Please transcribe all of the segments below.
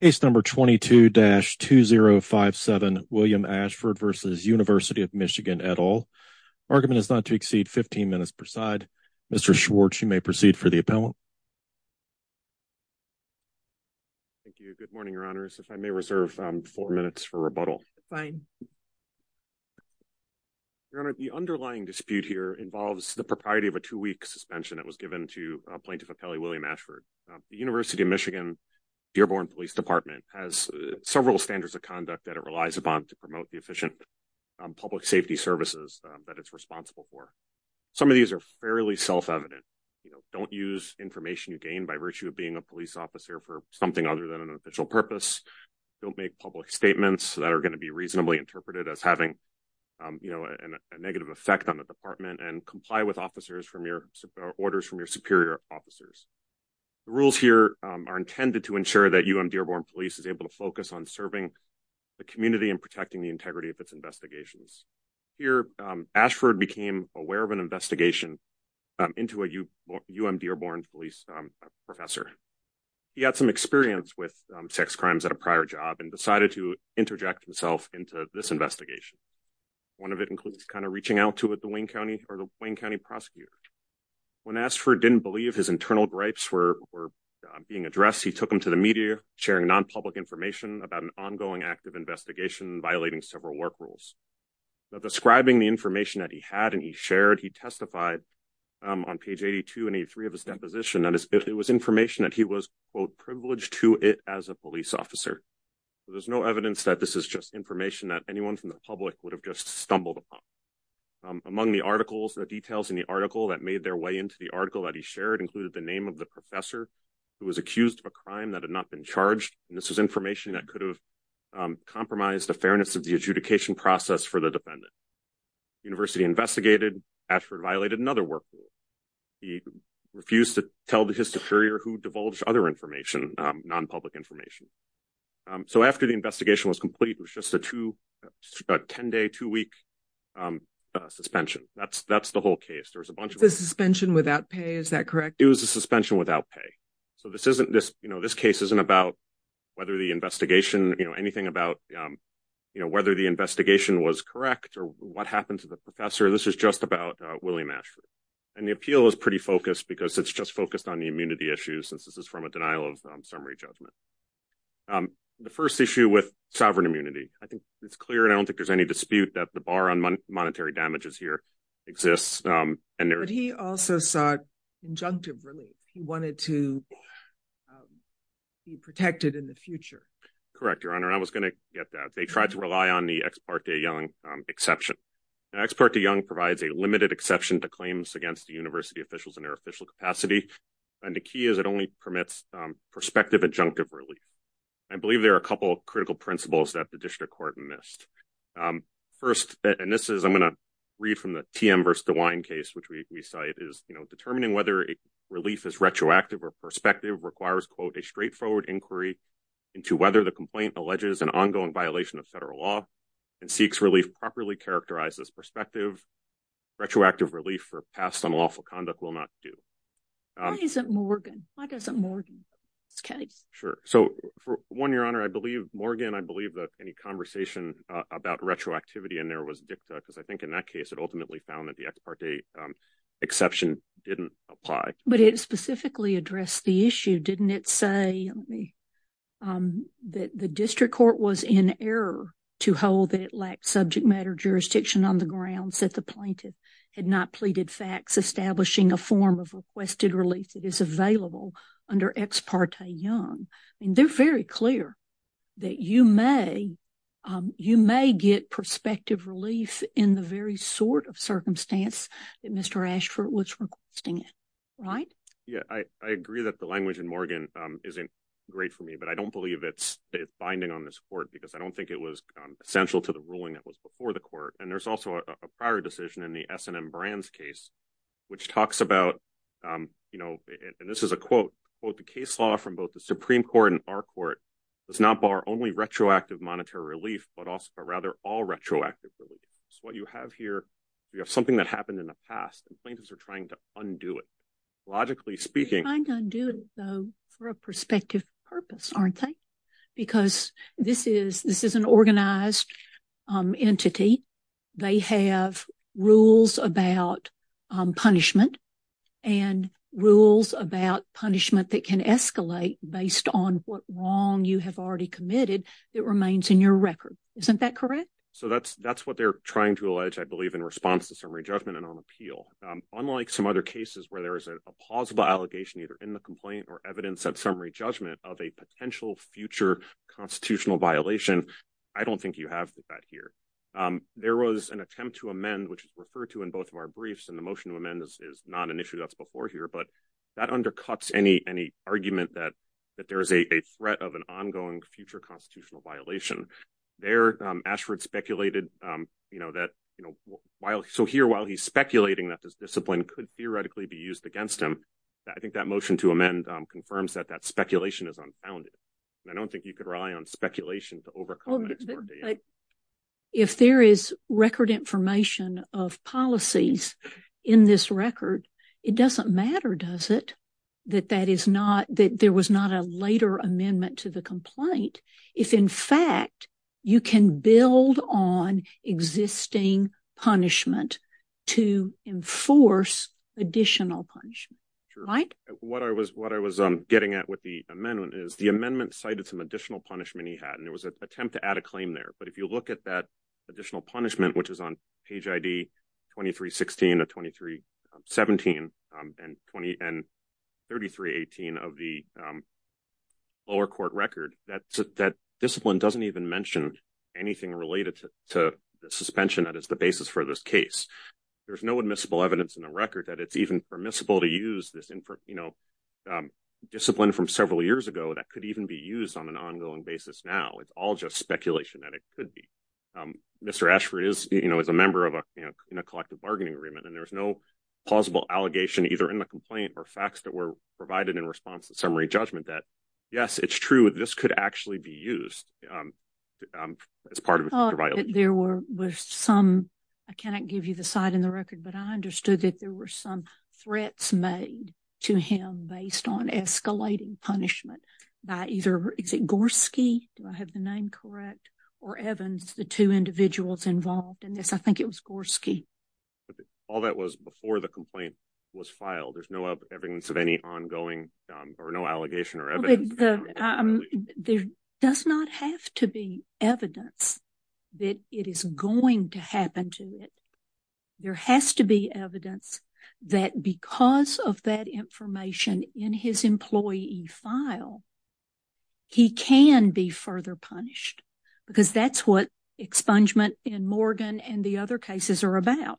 Case number 22-2057 William Ashford v. University of Michigan et al. Argument is not to exceed 15 minutes per side. Mr. Schwartz, you may proceed for the appellant. Thank you. Good morning, Your Honors. If I may reserve four minutes for rebuttal. Fine. Your Honor, the underlying dispute here involves the propriety of a two-week suspension that was given to Plaintiff Appellee William Ashford. The University of Michigan Dearborn Police Department has several standards of conduct that it relies upon to promote the efficient public safety services that it's responsible for. Some of these are fairly self-evident. You know, don't use information you gain by virtue of being a police officer for something other than an official purpose. Don't make public statements that are going to be reasonably interpreted as having, you know, a negative effect on the department and comply with officers from orders from your superior officers. The rules here are intended to ensure that UM-Dearborn Police is able to focus on serving the community and protecting the integrity of its investigations. Here, Ashford became aware of an investigation into a UM-Dearborn police professor. He had some experience with sex crimes at a prior job and decided to interject himself into this investigation. One of it includes kind of reaching out to the Wayne County prosecutor. When Ashford didn't believe his internal gripes were being addressed, he took them to the media, sharing non-public information about an ongoing active investigation violating several work rules. Describing the information that he had and he shared, he testified on page 82 and 83 of his deposition that it was information that he was, quote, privileged to it as a police officer. There's no evidence that this is just information that anyone from the public would have just stumbled upon. Among the articles, the details in the article that made their way into the article that he shared included the name of the professor who was accused of a crime that had not been charged and this was information that could have compromised the fairness of the adjudication process for the defendant. The university investigated. Ashford violated another work rule. He refused to tell his superior who divulged other information, non-public information. So after the investigation was complete, it was just a two, a 10-day, two-week suspension. That's the whole case. There was a bunch of... The suspension without pay, is that correct? It was a suspension without pay. So this isn't this, you know, this case isn't about whether the investigation, you know, anything about, you know, whether the investigation was correct or what happened to the professor. This is just about William Ashford. And the appeal is pretty focused because it's just focused on the immunity issues since this is from a denial of summary judgment. The first issue with sovereign immunity, I think it's clear and I don't think there's any dispute that the bar on monetary damages here exists. But he also sought injunctive relief. He wanted to be protected in the future. Correct, Your Honor. I was going to get that. They tried to rely on the Ex parte Young exception. The Ex parte Young provides a limited exception to claims against the university officials in their official capacity. And the key is it only permits prospective injunctive relief. I believe there are a couple of critical principles that the district court missed. First, and this is, I'm going to read from the TM versus DeWine case, which we cite is, you know, determining whether relief is retroactive or prospective requires, quote, a straightforward inquiry into whether the complaint alleges an ongoing violation of federal law and seeks relief properly characterized as prospective retroactive relief for past unlawful conduct will not do. Why isn't Morgan? Why doesn't Morgan? Sure. So for one, Your Honor, I believe Morgan, I believe that any conversation about retroactivity in there was dicta because I think in that case it ultimately found that the Ex parte exception didn't apply. But it specifically addressed the issue, didn't it say, let me, um, that the district court was in error to hold that it lacked subject matter jurisdiction on the grounds that the plaintiff had not pleaded facts establishing a form of requested relief that is available under Ex parte Young. I mean, they're very clear that you may, um, you may get prospective relief in the very sort of circumstance that Mr. Ashford was requesting it, right? Yeah, I agree that the language in Morgan, um, isn't great for me, but I don't believe it's binding on this court because I don't think it was essential to the ruling that was before the court. And there's also a prior decision in the S and M Brands case, which talks about, um, you know, and this is a quote, quote, the case law from both the Supreme court and our court does not bar only retroactive monetary relief, but also, but rather all retroactive relief. So what you have here, you have something that happened in the past and plaintiffs are trying to undo it. Logically speaking for a prospective purpose, aren't they? Because this is, this is an organized, um, entity. They have rules about, um, punishment and rules about punishment that can escalate based on what wrong you have already committed that remains in your record. Isn't that correct? So that's, that's what they're trying to allege. I believe in response to summary judgment and on Unlike some other cases where there is a plausible allegation, either in the complaint or evidence at summary judgment of a potential future constitutional violation. I don't think you have that here. Um, there was an attempt to amend, which is referred to in both of our briefs. And the motion of amendments is not an issue that's before here, but that undercuts any, any argument that, that there is a threat of an ongoing future constitutional violation there. Um, you know, that, you know, while, so here, while he's speculating that this discipline could theoretically be used against him, I think that motion to amend, um, confirms that that speculation is unfounded. And I don't think you could rely on speculation to overcome it. If there is record information of policies in this record, it doesn't matter, does it? That that is not that there was not a later amendment to the complaint. If in fact you can build on existing punishment to enforce additional punishment, right? What I was, what I was, um, getting at with the amendment is the amendment cited some additional punishment he had, and there was an attempt to add a claim there. But if you look at that additional punishment, which is on page ID 2316 to 2317, um, and 20 and 3318 of the, um, lower court record, that, that discipline doesn't even mention anything related to the suspension that is the basis for this case. There's no admissible evidence in the record that it's even permissible to use this, you know, um, discipline from several years ago that could even be used on an ongoing basis now. It's all just speculation that it could be. Um, Mr. Ashford is, you know, is a member of a, you know, in a collective bargaining agreement, and there was no plausible allegation either in the complaint or facts that were provided in summary judgment that, yes, it's true, this could actually be used, um, um, as part of it. There were some, I cannot give you the site in the record, but I understood that there were some threats made to him based on escalating punishment by either, is it Gorski, do I have the name correct, or Evans, the two individuals involved in this? I think it was Gorski. All that was before the complaint was filed. There's no evidence of any ongoing, um, or no allegation or evidence. There does not have to be evidence that it is going to happen to it. There has to be evidence that because of that information in his employee file, he can be further punished, because that's what expungement in Morgan and the other cases are about,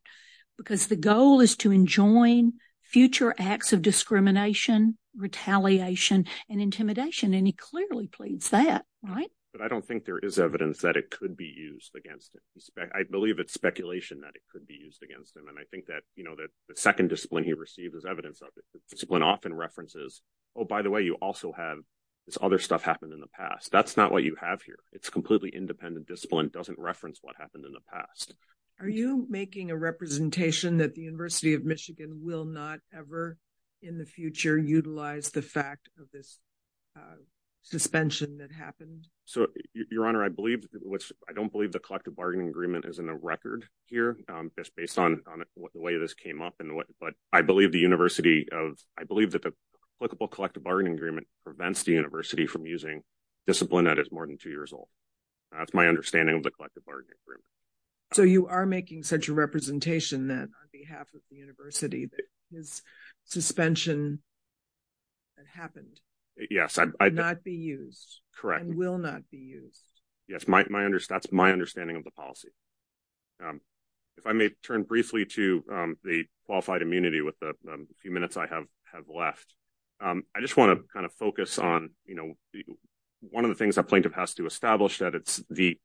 because the goal is to enjoin future acts of discrimination, retaliation, and intimidation, and he clearly pleads that, right? But I don't think there is evidence that it could be used against him. I believe it's speculation that it could be used against him, and I think that, you know, that the second discipline he received is evidence of it. Discipline often references, oh, by the way, you also have this other stuff happened in the past. That's not what you have here. It's completely independent discipline. It doesn't reference what happened in the past. Are you making a representation that the University of Michigan will not ever in the future utilize the fact of this, uh, suspension that happened? So, your honor, I believe, which I don't believe the collective bargaining agreement is in the record here, um, just based on, on the way this came up and what, but I believe the university of, I believe that the applicable collective bargaining agreement prevents the university from using discipline that is more than two years old. That's my understanding of the collective bargaining agreement. So you are making such a representation that on behalf of the university that his suspension that happened. Yes. I'd not be used. Correct. And will not be used. Yes. My, my, that's my understanding of the policy. Um, if I may turn briefly to, um, the qualified immunity with the few minutes I have, have left. Um, I just want to kind of focus on, you know, one of the things that plaintiff has to establish that it's the,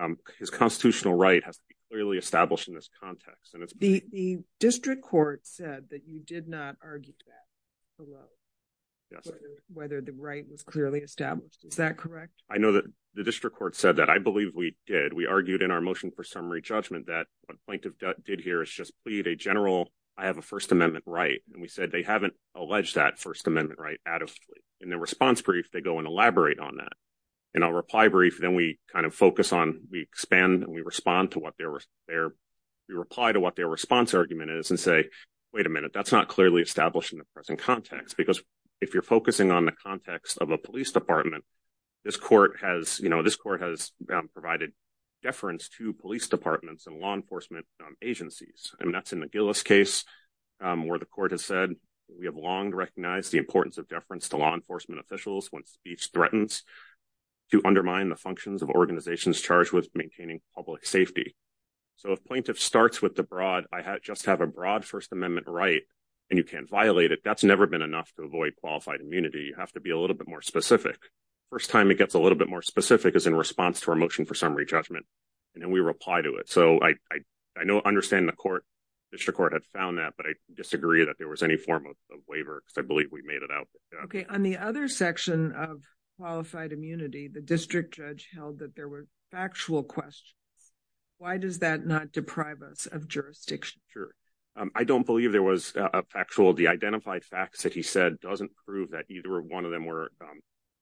um, his constitutional right has to be clearly established in this context. And it's the district court said that you did not argue that below whether the right was clearly established. Is that correct? I know that the district court said that. I believe we did. We argued in our motion for summary judgment that what plaintiff did here is just plead a general. I have a first amendment, right? And we said, they haven't alleged that first amendment right out of in their response brief, they go and elaborate on that. And I'll reply brief. Then we kind of focus on, we expand and we respond to what they were there. We reply to what their response argument is and say, wait a minute, that's not clearly established in the present context. Because if you're focusing on the context of a police department, this court has, you know, this court has provided deference to police departments and law enforcement agencies. I mean, that's in the Gillis case, where the court has said, we have long recognized the importance of deference to law enforcement officials when speech threatens to undermine the functions of organizations charged with maintaining public safety. So if plaintiff starts with the broad, I just have a broad first amendment, right? And you can't violate it. That's never been enough to avoid qualified immunity. You have to be a little bit more specific. First time it gets a little bit more specific is in response to our motion for summary judgment. And then we reply to it. So I, I know, understand the court, district court had found that, but I disagree that there was any form of waiver because I believe we made it out. Okay. On the other section of qualified immunity, the district judge held that there were factual questions. Why does that not deprive us of jurisdiction? Sure. I don't believe there was a factual, the identified facts that he said doesn't prove that either one of them were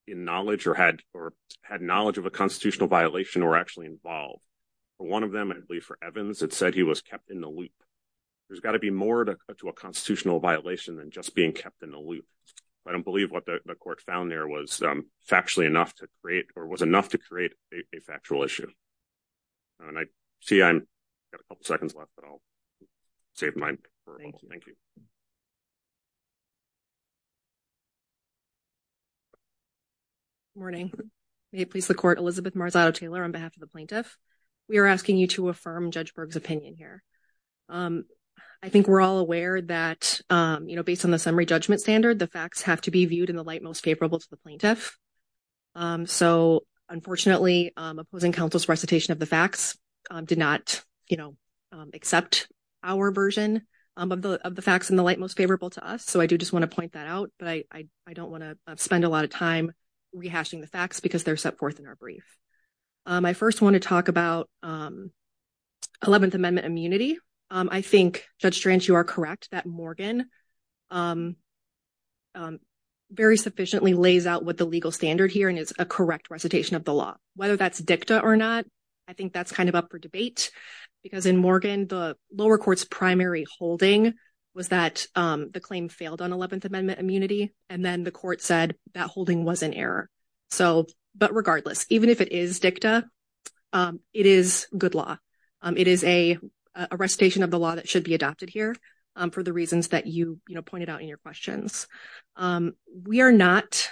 in knowledge or had, or had knowledge of a violation or actually involved. But one of them, I believe for Evans, it said he was kept in the loop. There's got to be more to a constitutional violation than just being kept in the loop. I don't believe what the court found there was factually enough to create or was enough to create a factual issue. And I see I'm got a couple of seconds left, but I'll save mine. Thank you. Good morning. May it please the court, Elizabeth Marzotto-Taylor on behalf of the plaintiff. We are asking you to affirm Judge Berg's opinion here. I think we're all aware that, you know, based on the summary judgment standard, the facts have to be viewed in the light most favorable to the plaintiff. So unfortunately, opposing counsel's recitation of the facts did not, you know, accept our version of the facts in the light most favorable to us. So I do just want to point that out, but I don't want to spend a lot of time rehashing the facts because they're set forth in our brief. I first want to talk about 11th Amendment immunity. I think, Judge Strange, you are correct that Morgan very sufficiently lays out what the legal standard here and is a correct recitation of the law. Whether that's dicta or not, I think that's kind of up for debate. Because in Morgan, the lower court's primary holding was that the claim failed on 11th Amendment immunity, and then the court said that holding was an error. So, but regardless, even if it is dicta, it is good law. It is a recitation of the law that should be adopted here for the reasons that you, you know, pointed out in your questions. We are not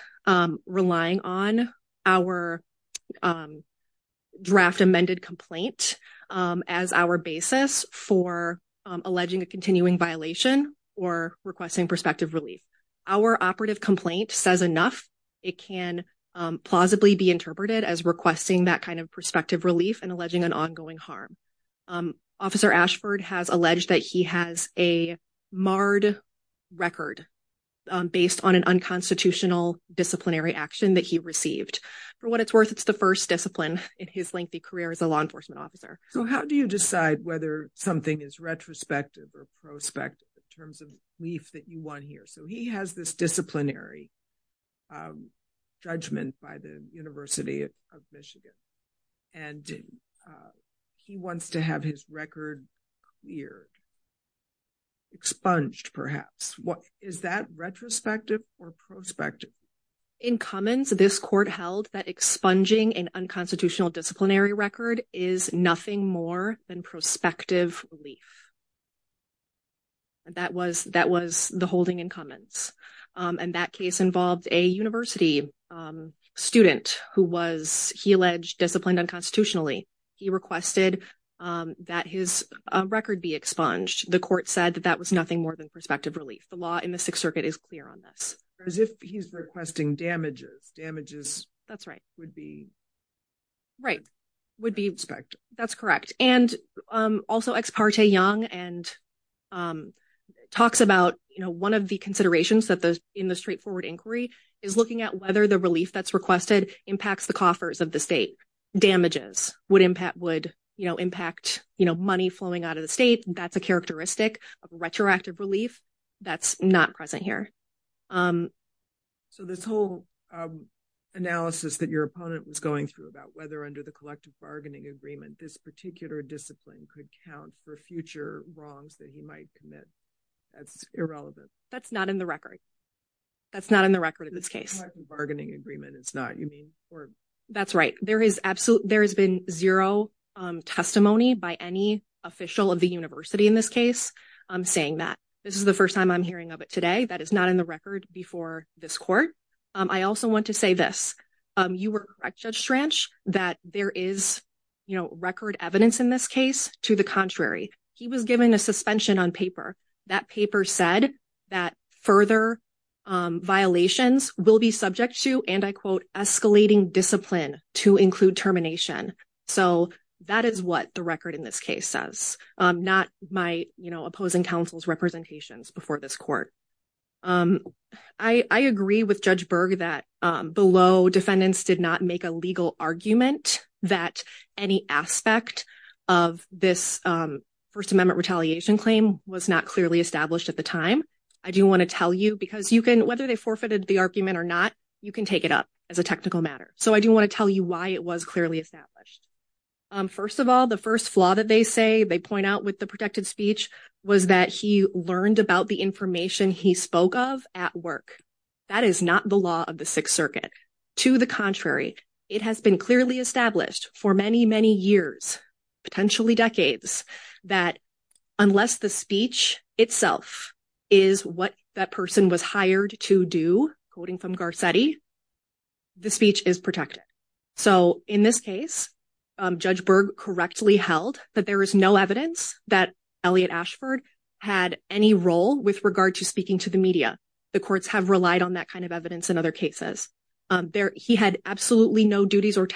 relying on our draft amended complaint as our basis for alleging a continuing violation or requesting prospective relief. Our operative complaint says enough. It can plausibly be interpreted as requesting that kind of prospective relief and alleging an ongoing harm. Officer Ashford has alleged that he has a marred record based on an unconstitutional disciplinary action that he received. For what it's worth, it's the first discipline in his lengthy career as a law enforcement officer. So how do you decide whether something is retrospective or prospective in terms of relief that you want here? So he has this disciplinary judgment by the University of Michigan, and he wants to have his record cleared, expunged, perhaps. What is that, retrospective or prospective? In Cummins, this court held that expunging an unconstitutional disciplinary record is nothing more than prospective relief. That was, that was the holding in Cummins, and that case involved a university student who was, he alleged, disciplined unconstitutionally. He requested that his record be expunged. The court said that that was nothing more than prospective relief. The law in the Sixth Circuit is clear on this. As if he's requesting damages. Damages. That's right. Would be. Right. Would be. That's correct. And also, Ex parte Young talks about, you know, one of the considerations that those in the straightforward inquiry is looking at whether the relief that's requested impacts the coffers of the state. Damages would impact, would, you know, impact, you know, money flowing out of the state. That's a characteristic of retroactive relief. That's not present here. So this whole analysis that your opponent was going through about whether under the collective bargaining agreement, this particular discipline could count for future wrongs that he might commit. That's irrelevant. That's not in the record. That's not in the record in this case. Bargaining agreement. It's not. You mean. That's right. There is absolutely. There has been zero testimony by any official of the university in this case saying that this is the first time I'm hearing of it today. That is not in the record before this court. I also want to say this. You were correct, Judge Schranch, that there is, you know, record evidence in this case. To the contrary, he was given a suspension on paper. That paper said that further violations will be subject to, and I quote, escalating discipline to include termination. So that is what the record in this case says. Not my, you know, opposing counsel's representations before this court. I agree with Judge Berg that below defendants did not make a legal argument that any aspect of this First Amendment retaliation claim was not clearly established at the time. I do want to tell you, because you can, whether they forfeited the argument or not, you can take it up as a technical matter. So I do want to tell you why it was clearly established. First of all, the first flaw that they say, they point out with the protected speech, was that he learned about the information he spoke of at work. That is not the law of the years, potentially decades, that unless the speech itself is what that person was hired to do, quoting from Garcetti, the speech is protected. So in this case, Judge Berg correctly held that there is no evidence that Elliot Ashford had any role with regard to speaking to the media. The courts have relied on that kind of evidence in other cases. He had absolutely no duties or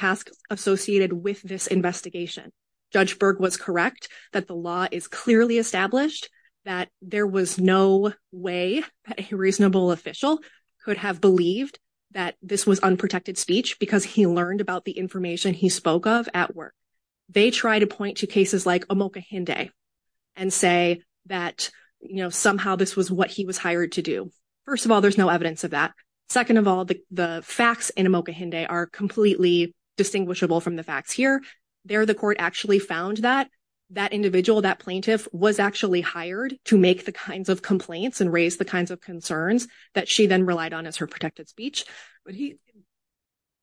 associated with this investigation. Judge Berg was correct that the law is clearly established, that there was no way that a reasonable official could have believed that this was unprotected speech because he learned about the information he spoke of at work. They try to point to cases like Omokahinde and say that somehow this was what he was hired to do. First of all, there's no evidence of that. Second of all, the facts in Omokahinde are completely distinguishable from the facts here. There, the court actually found that that individual, that plaintiff, was actually hired to make the kinds of complaints and raise the kinds of concerns that she then relied on as her protected speech. But he,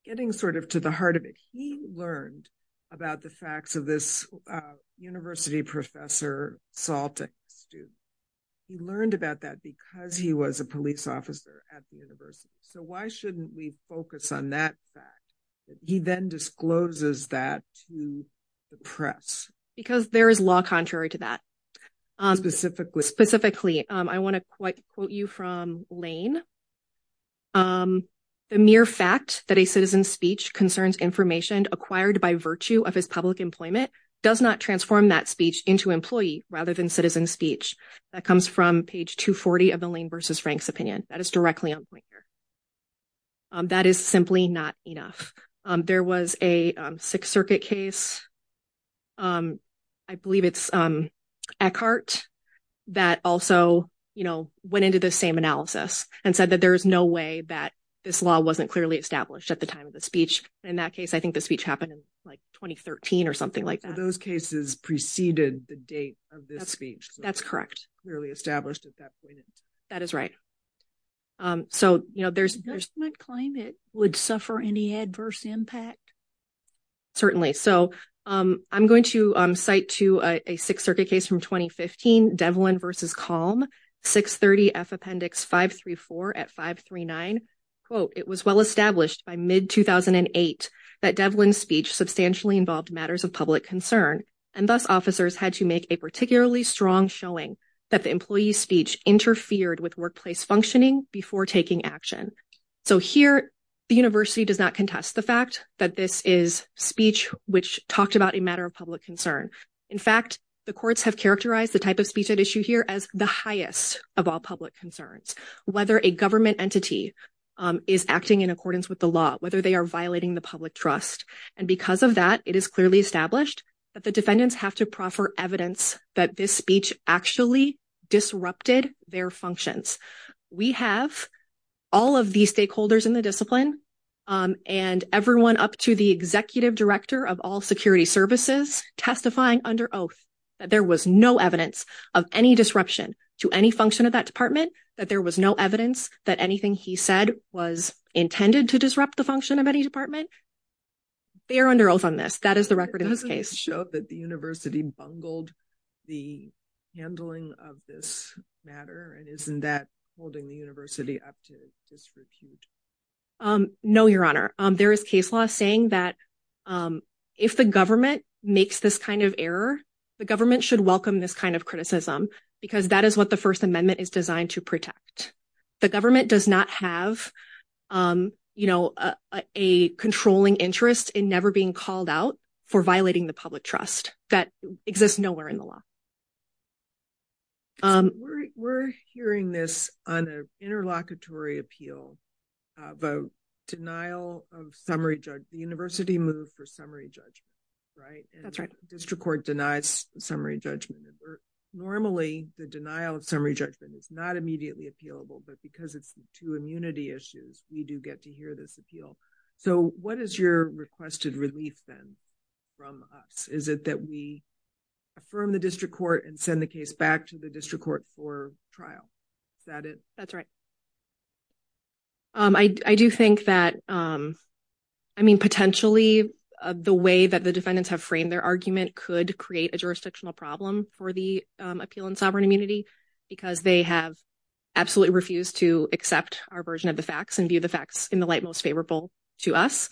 getting sort of to the heart of it, he learned about the facts of this university professor, Saltic, student. He learned about that because he was a police officer at the university. So why shouldn't we focus on that fact? He then discloses that to the press. Because there is law contrary to that. Specifically. Specifically. I want to quote you from Lane. The mere fact that a citizen's speech concerns information acquired by virtue of his public employment does not transform that speech into employee rather than citizen speech. That comes from page 240 of the Lane v. Frank's opinion. That is directly on point here. That is simply not enough. There was a Sixth Circuit case, I believe it's Eckhardt, that also, you know, went into the same analysis and said that there is no way that this law wasn't clearly established at the time of the speech. In that case, I think the speech happened in, like, 2013 or something like that. Those cases preceded the date of this That's correct. That is right. So, you know, there's Certainly. So I'm going to cite to a Sixth Circuit case from 2015, Devlin v. Calm, 630 F Appendix 534 at 539. Quote, that the employee's speech interfered with workplace functioning before taking action. So here the university does not contest the fact that this is speech which talked about a matter of public concern. In fact, the courts have characterized the type of speech at issue here as the highest of all public concerns. Whether a government entity is acting in accordance with the law, whether they are violating the public trust. And because of that, it is clearly established that the defendants have to proffer evidence that this speech actually disrupted their functions. We have all of these stakeholders in the discipline and everyone up to the executive director of all security services testifying under oath that there was no evidence of any disruption to any function of that department, that there was no evidence that anything he said was intended to disrupt the function of any department. They're under oath on this. That is the record in this case showed that the university bungled the handling of this matter. And isn't that holding the university up to disrepute? No, your honor. There is case law saying that if the government makes this kind of error, the government should welcome this kind of criticism because that is what the First Amendment is designed to protect. The government does not have, you know, a controlling interest in never being called out for violating the public trust that exists nowhere in the law. We're hearing this on an interlocutory appeal of a denial of summary judge. The university moved for summary judgment, right? That's right. District court denies summary judgment. Normally, the denial of summary judgment is not immediately appealable, but because it's two immunity issues, we do get to hear this appeal. So what is your requested relief then from us? Is it that we affirm the district court and send the case back to the district court for trial? Is that it? That's right. I do think that, I mean, potentially the way that the defendants have framed their argument could create a jurisdictional problem for the appeal in sovereign immunity because they have absolutely refused to accept our version of the facts and view the facts in the light most favorable to us.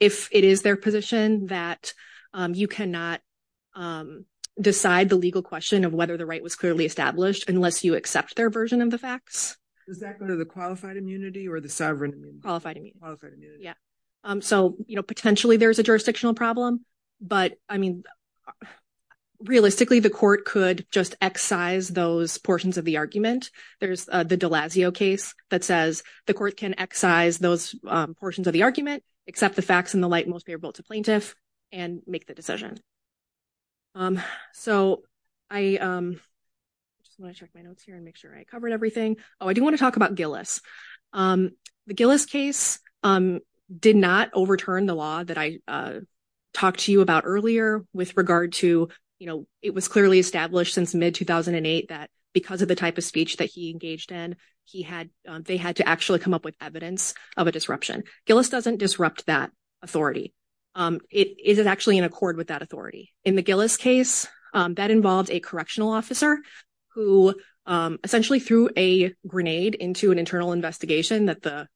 If it is their position that you cannot decide the legal question of whether the right was clearly established unless you accept their version of the facts. Does that go to the qualified immunity or the sovereign immunity? Qualified immunity. Yeah. So, you know, potentially there's a jurisdictional problem, but I mean, realistically, the court could just excise those portions of the argument. There's the Delazio case that says the court can excise those portions of the argument, accept the facts in the light most favorable to plaintiff, and make the decision. So I just want to check my notes here and make sure I covered everything. Oh, I do want to talk about Gillis. The Gillis case did not overturn the law that I talked to you about earlier with regard to, you know, it was clearly established since mid-2008 that because of the type of speech that he engaged in, they had to actually come up with evidence of a disruption. Gillis doesn't disrupt that authority. It is actually in accord with that In the Gillis case, that involved a correctional officer who essentially threw a grenade into an internal investigation that the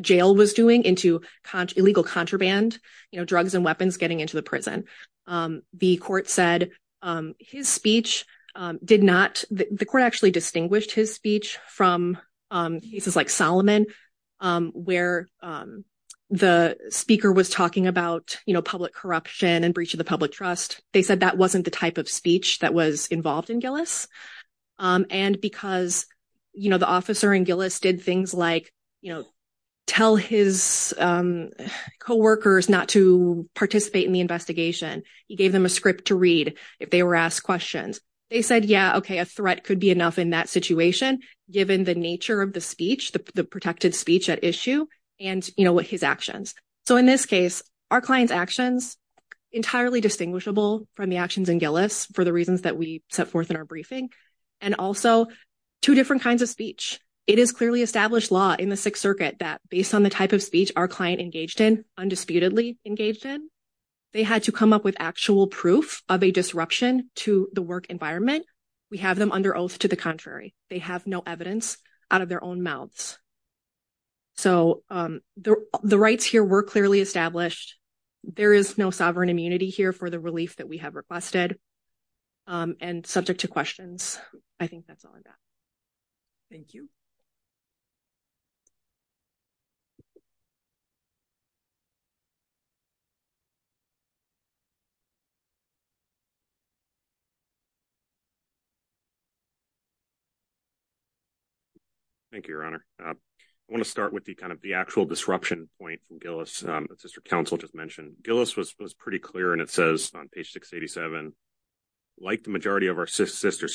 jail was doing into illegal contraband, you know, drugs and weapons getting into the prison. The court said his speech did not, the court actually distinguished his speech from cases like Solomon, where the speaker was talking about, you know, corruption and breach of the public trust. They said that wasn't the type of speech that was involved in Gillis. And because, you know, the officer in Gillis did things like, you know, tell his co-workers not to participate in the investigation. He gave them a script to read if they were asked questions. They said, yeah, okay, a threat could be enough in that situation, given the nature of the speech, the protected speech at issue and, you know, his actions. So in this case, our client's actions, entirely distinguishable from the actions in Gillis for the reasons that we set forth in our briefing, and also two different kinds of speech. It is clearly established law in the Sixth Circuit that based on the type of speech our client engaged in, undisputedly engaged in, they had to come up with actual proof of a disruption to the work environment. We have them under oath to the contrary. They have no evidence out of their mouths. So the rights here were clearly established. There is no sovereign immunity here for the relief that we have requested. And subject to questions, I think that's all I've got. Thank you. Thank you, Your Honor. I want to start with the kind of the actual disruption point from Gillis that Sister Counsel just mentioned. Gillis was pretty clear, and it says on page 687, like the majority of our sister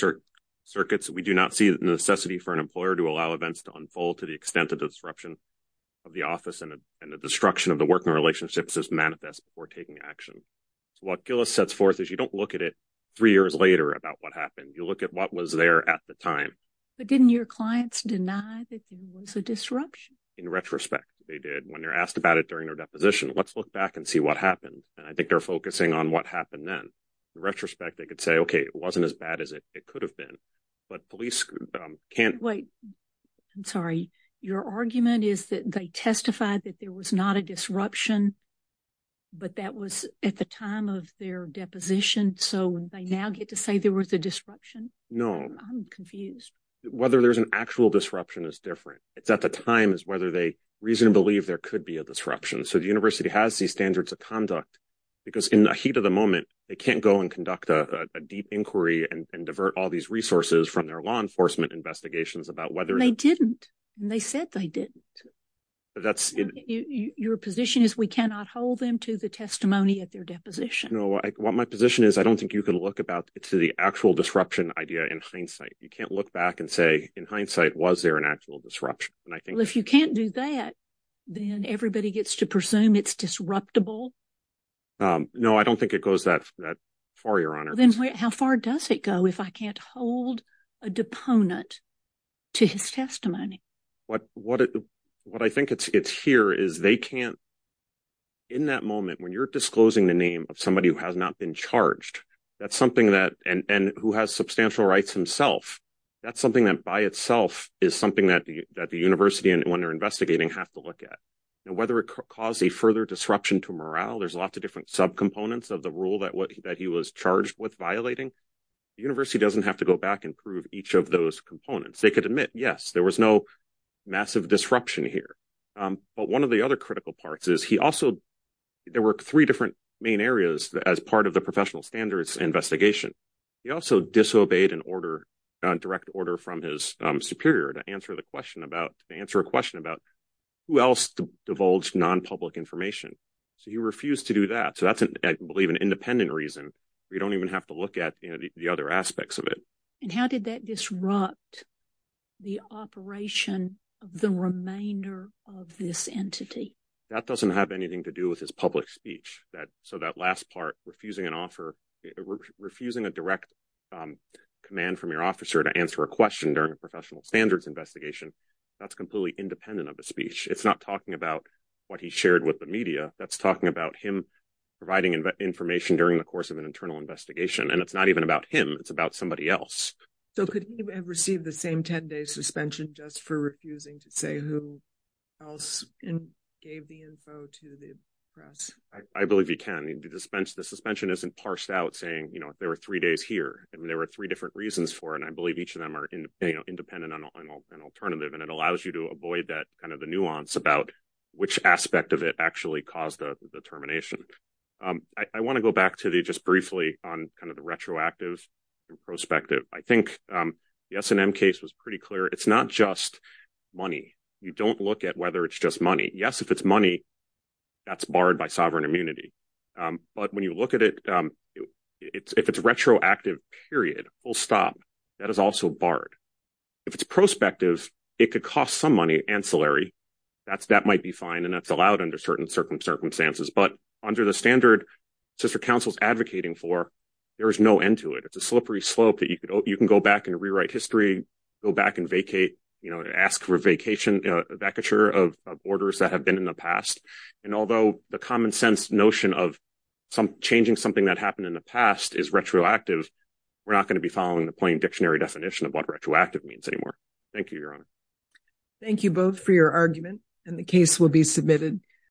circuits, we do not see the necessity for an employer to allow events to unfold to the extent of disruption of the office and the destruction of the working relationships as manifest before taking action. So what Gillis sets forth is you don't look at it three years later about what happened. You look at what was there at the time. But didn't your clients deny that there was a disruption? In retrospect, they did. When they're asked about it during their deposition, let's look back and see what happened. And I think they're focusing on what happened then. In retrospect, they could say, okay, it wasn't as bad as it could have been. But police can't... Wait. I'm sorry. Your argument is that they testified that there was not a disruption, but that was at the time of their deposition. So they now get to say there was a disruption? No. I'm confused. Whether there's an actual disruption is different. It's at the time is whether they reasonably believe there could be a disruption. So the university has these standards of conduct because in the heat of the moment, they can't go and conduct a deep inquiry and divert all these resources from their law enforcement investigations about whether... They didn't. They said they didn't. Your position is we cannot hold them to the testimony at their deposition. No. What my position is, I don't think you can look about it to the actual disruption idea in hindsight. You can't look back and say, in hindsight, was there an actual disruption? If you can't do that, then everybody gets to presume it's disruptible? No, I don't think it goes that far, Your Honor. Then how far does it go if I can't hold a deponent to his testimony? What I think it's here is they can't... In that moment, when you're disclosing the name of somebody who has not been charged, that's something that... And who has substantial rights himself, that's something that by itself is something that the university, when they're investigating, have to look at. Whether it caused a further disruption to morale, there's lots of different subcomponents of the rule that he was charged with violating. The university doesn't have to go back and prove each of those components. They could admit, yes, there was no massive disruption here. But one of the other critical parts is he also... There were three different main areas as part of the professional standards investigation. He also disobeyed a direct order from his superior to answer a question about who else divulged non-public information. So he refused to do that. So that's, I believe, an independent reason where you don't even have to look at the other aspects of it. And how did that disrupt the operation of the remainder of this entity? That doesn't have anything to do with his public speech. So that last part, refusing an offer, refusing a direct command from your officer to answer a question during a professional standards investigation, that's completely independent of the speech. It's not talking about what he shared with the media. That's talking about him providing information during the course of an internal investigation. And it's not even about him. It's about somebody else. So could he have received the same 10-day suspension just for refusing to say who else gave the info to the press? I believe he can. The suspension isn't parsed out saying there were three days here. There were three different reasons for it. And I believe each of them are independent and alternative. And it allows you to avoid the nuance about which aspect of it actually caused the termination. I want to go back to just briefly on the retroactive perspective. I think the S&M case was pretty clear. It's not just money. You don't look at whether it's just Yes, if it's money, that's barred by sovereign immunity. But when you look at it, if it's retroactive, period, full stop, that is also barred. If it's prospective, it could cost some money, ancillary. That might be fine. And that's allowed under certain circumstances. But under the standard sister counsel's advocating for, there is no end to it. It's a slippery slope that you can go back and rewrite history, go back and ask for a vacature of borders that have been in the past. And although the common sense notion of changing something that happened in the past is retroactive, we're not going to be following the plain dictionary definition of what retroactive means anymore. Thank you, Your Honor. Thank you both for your argument. And the case will be submitted.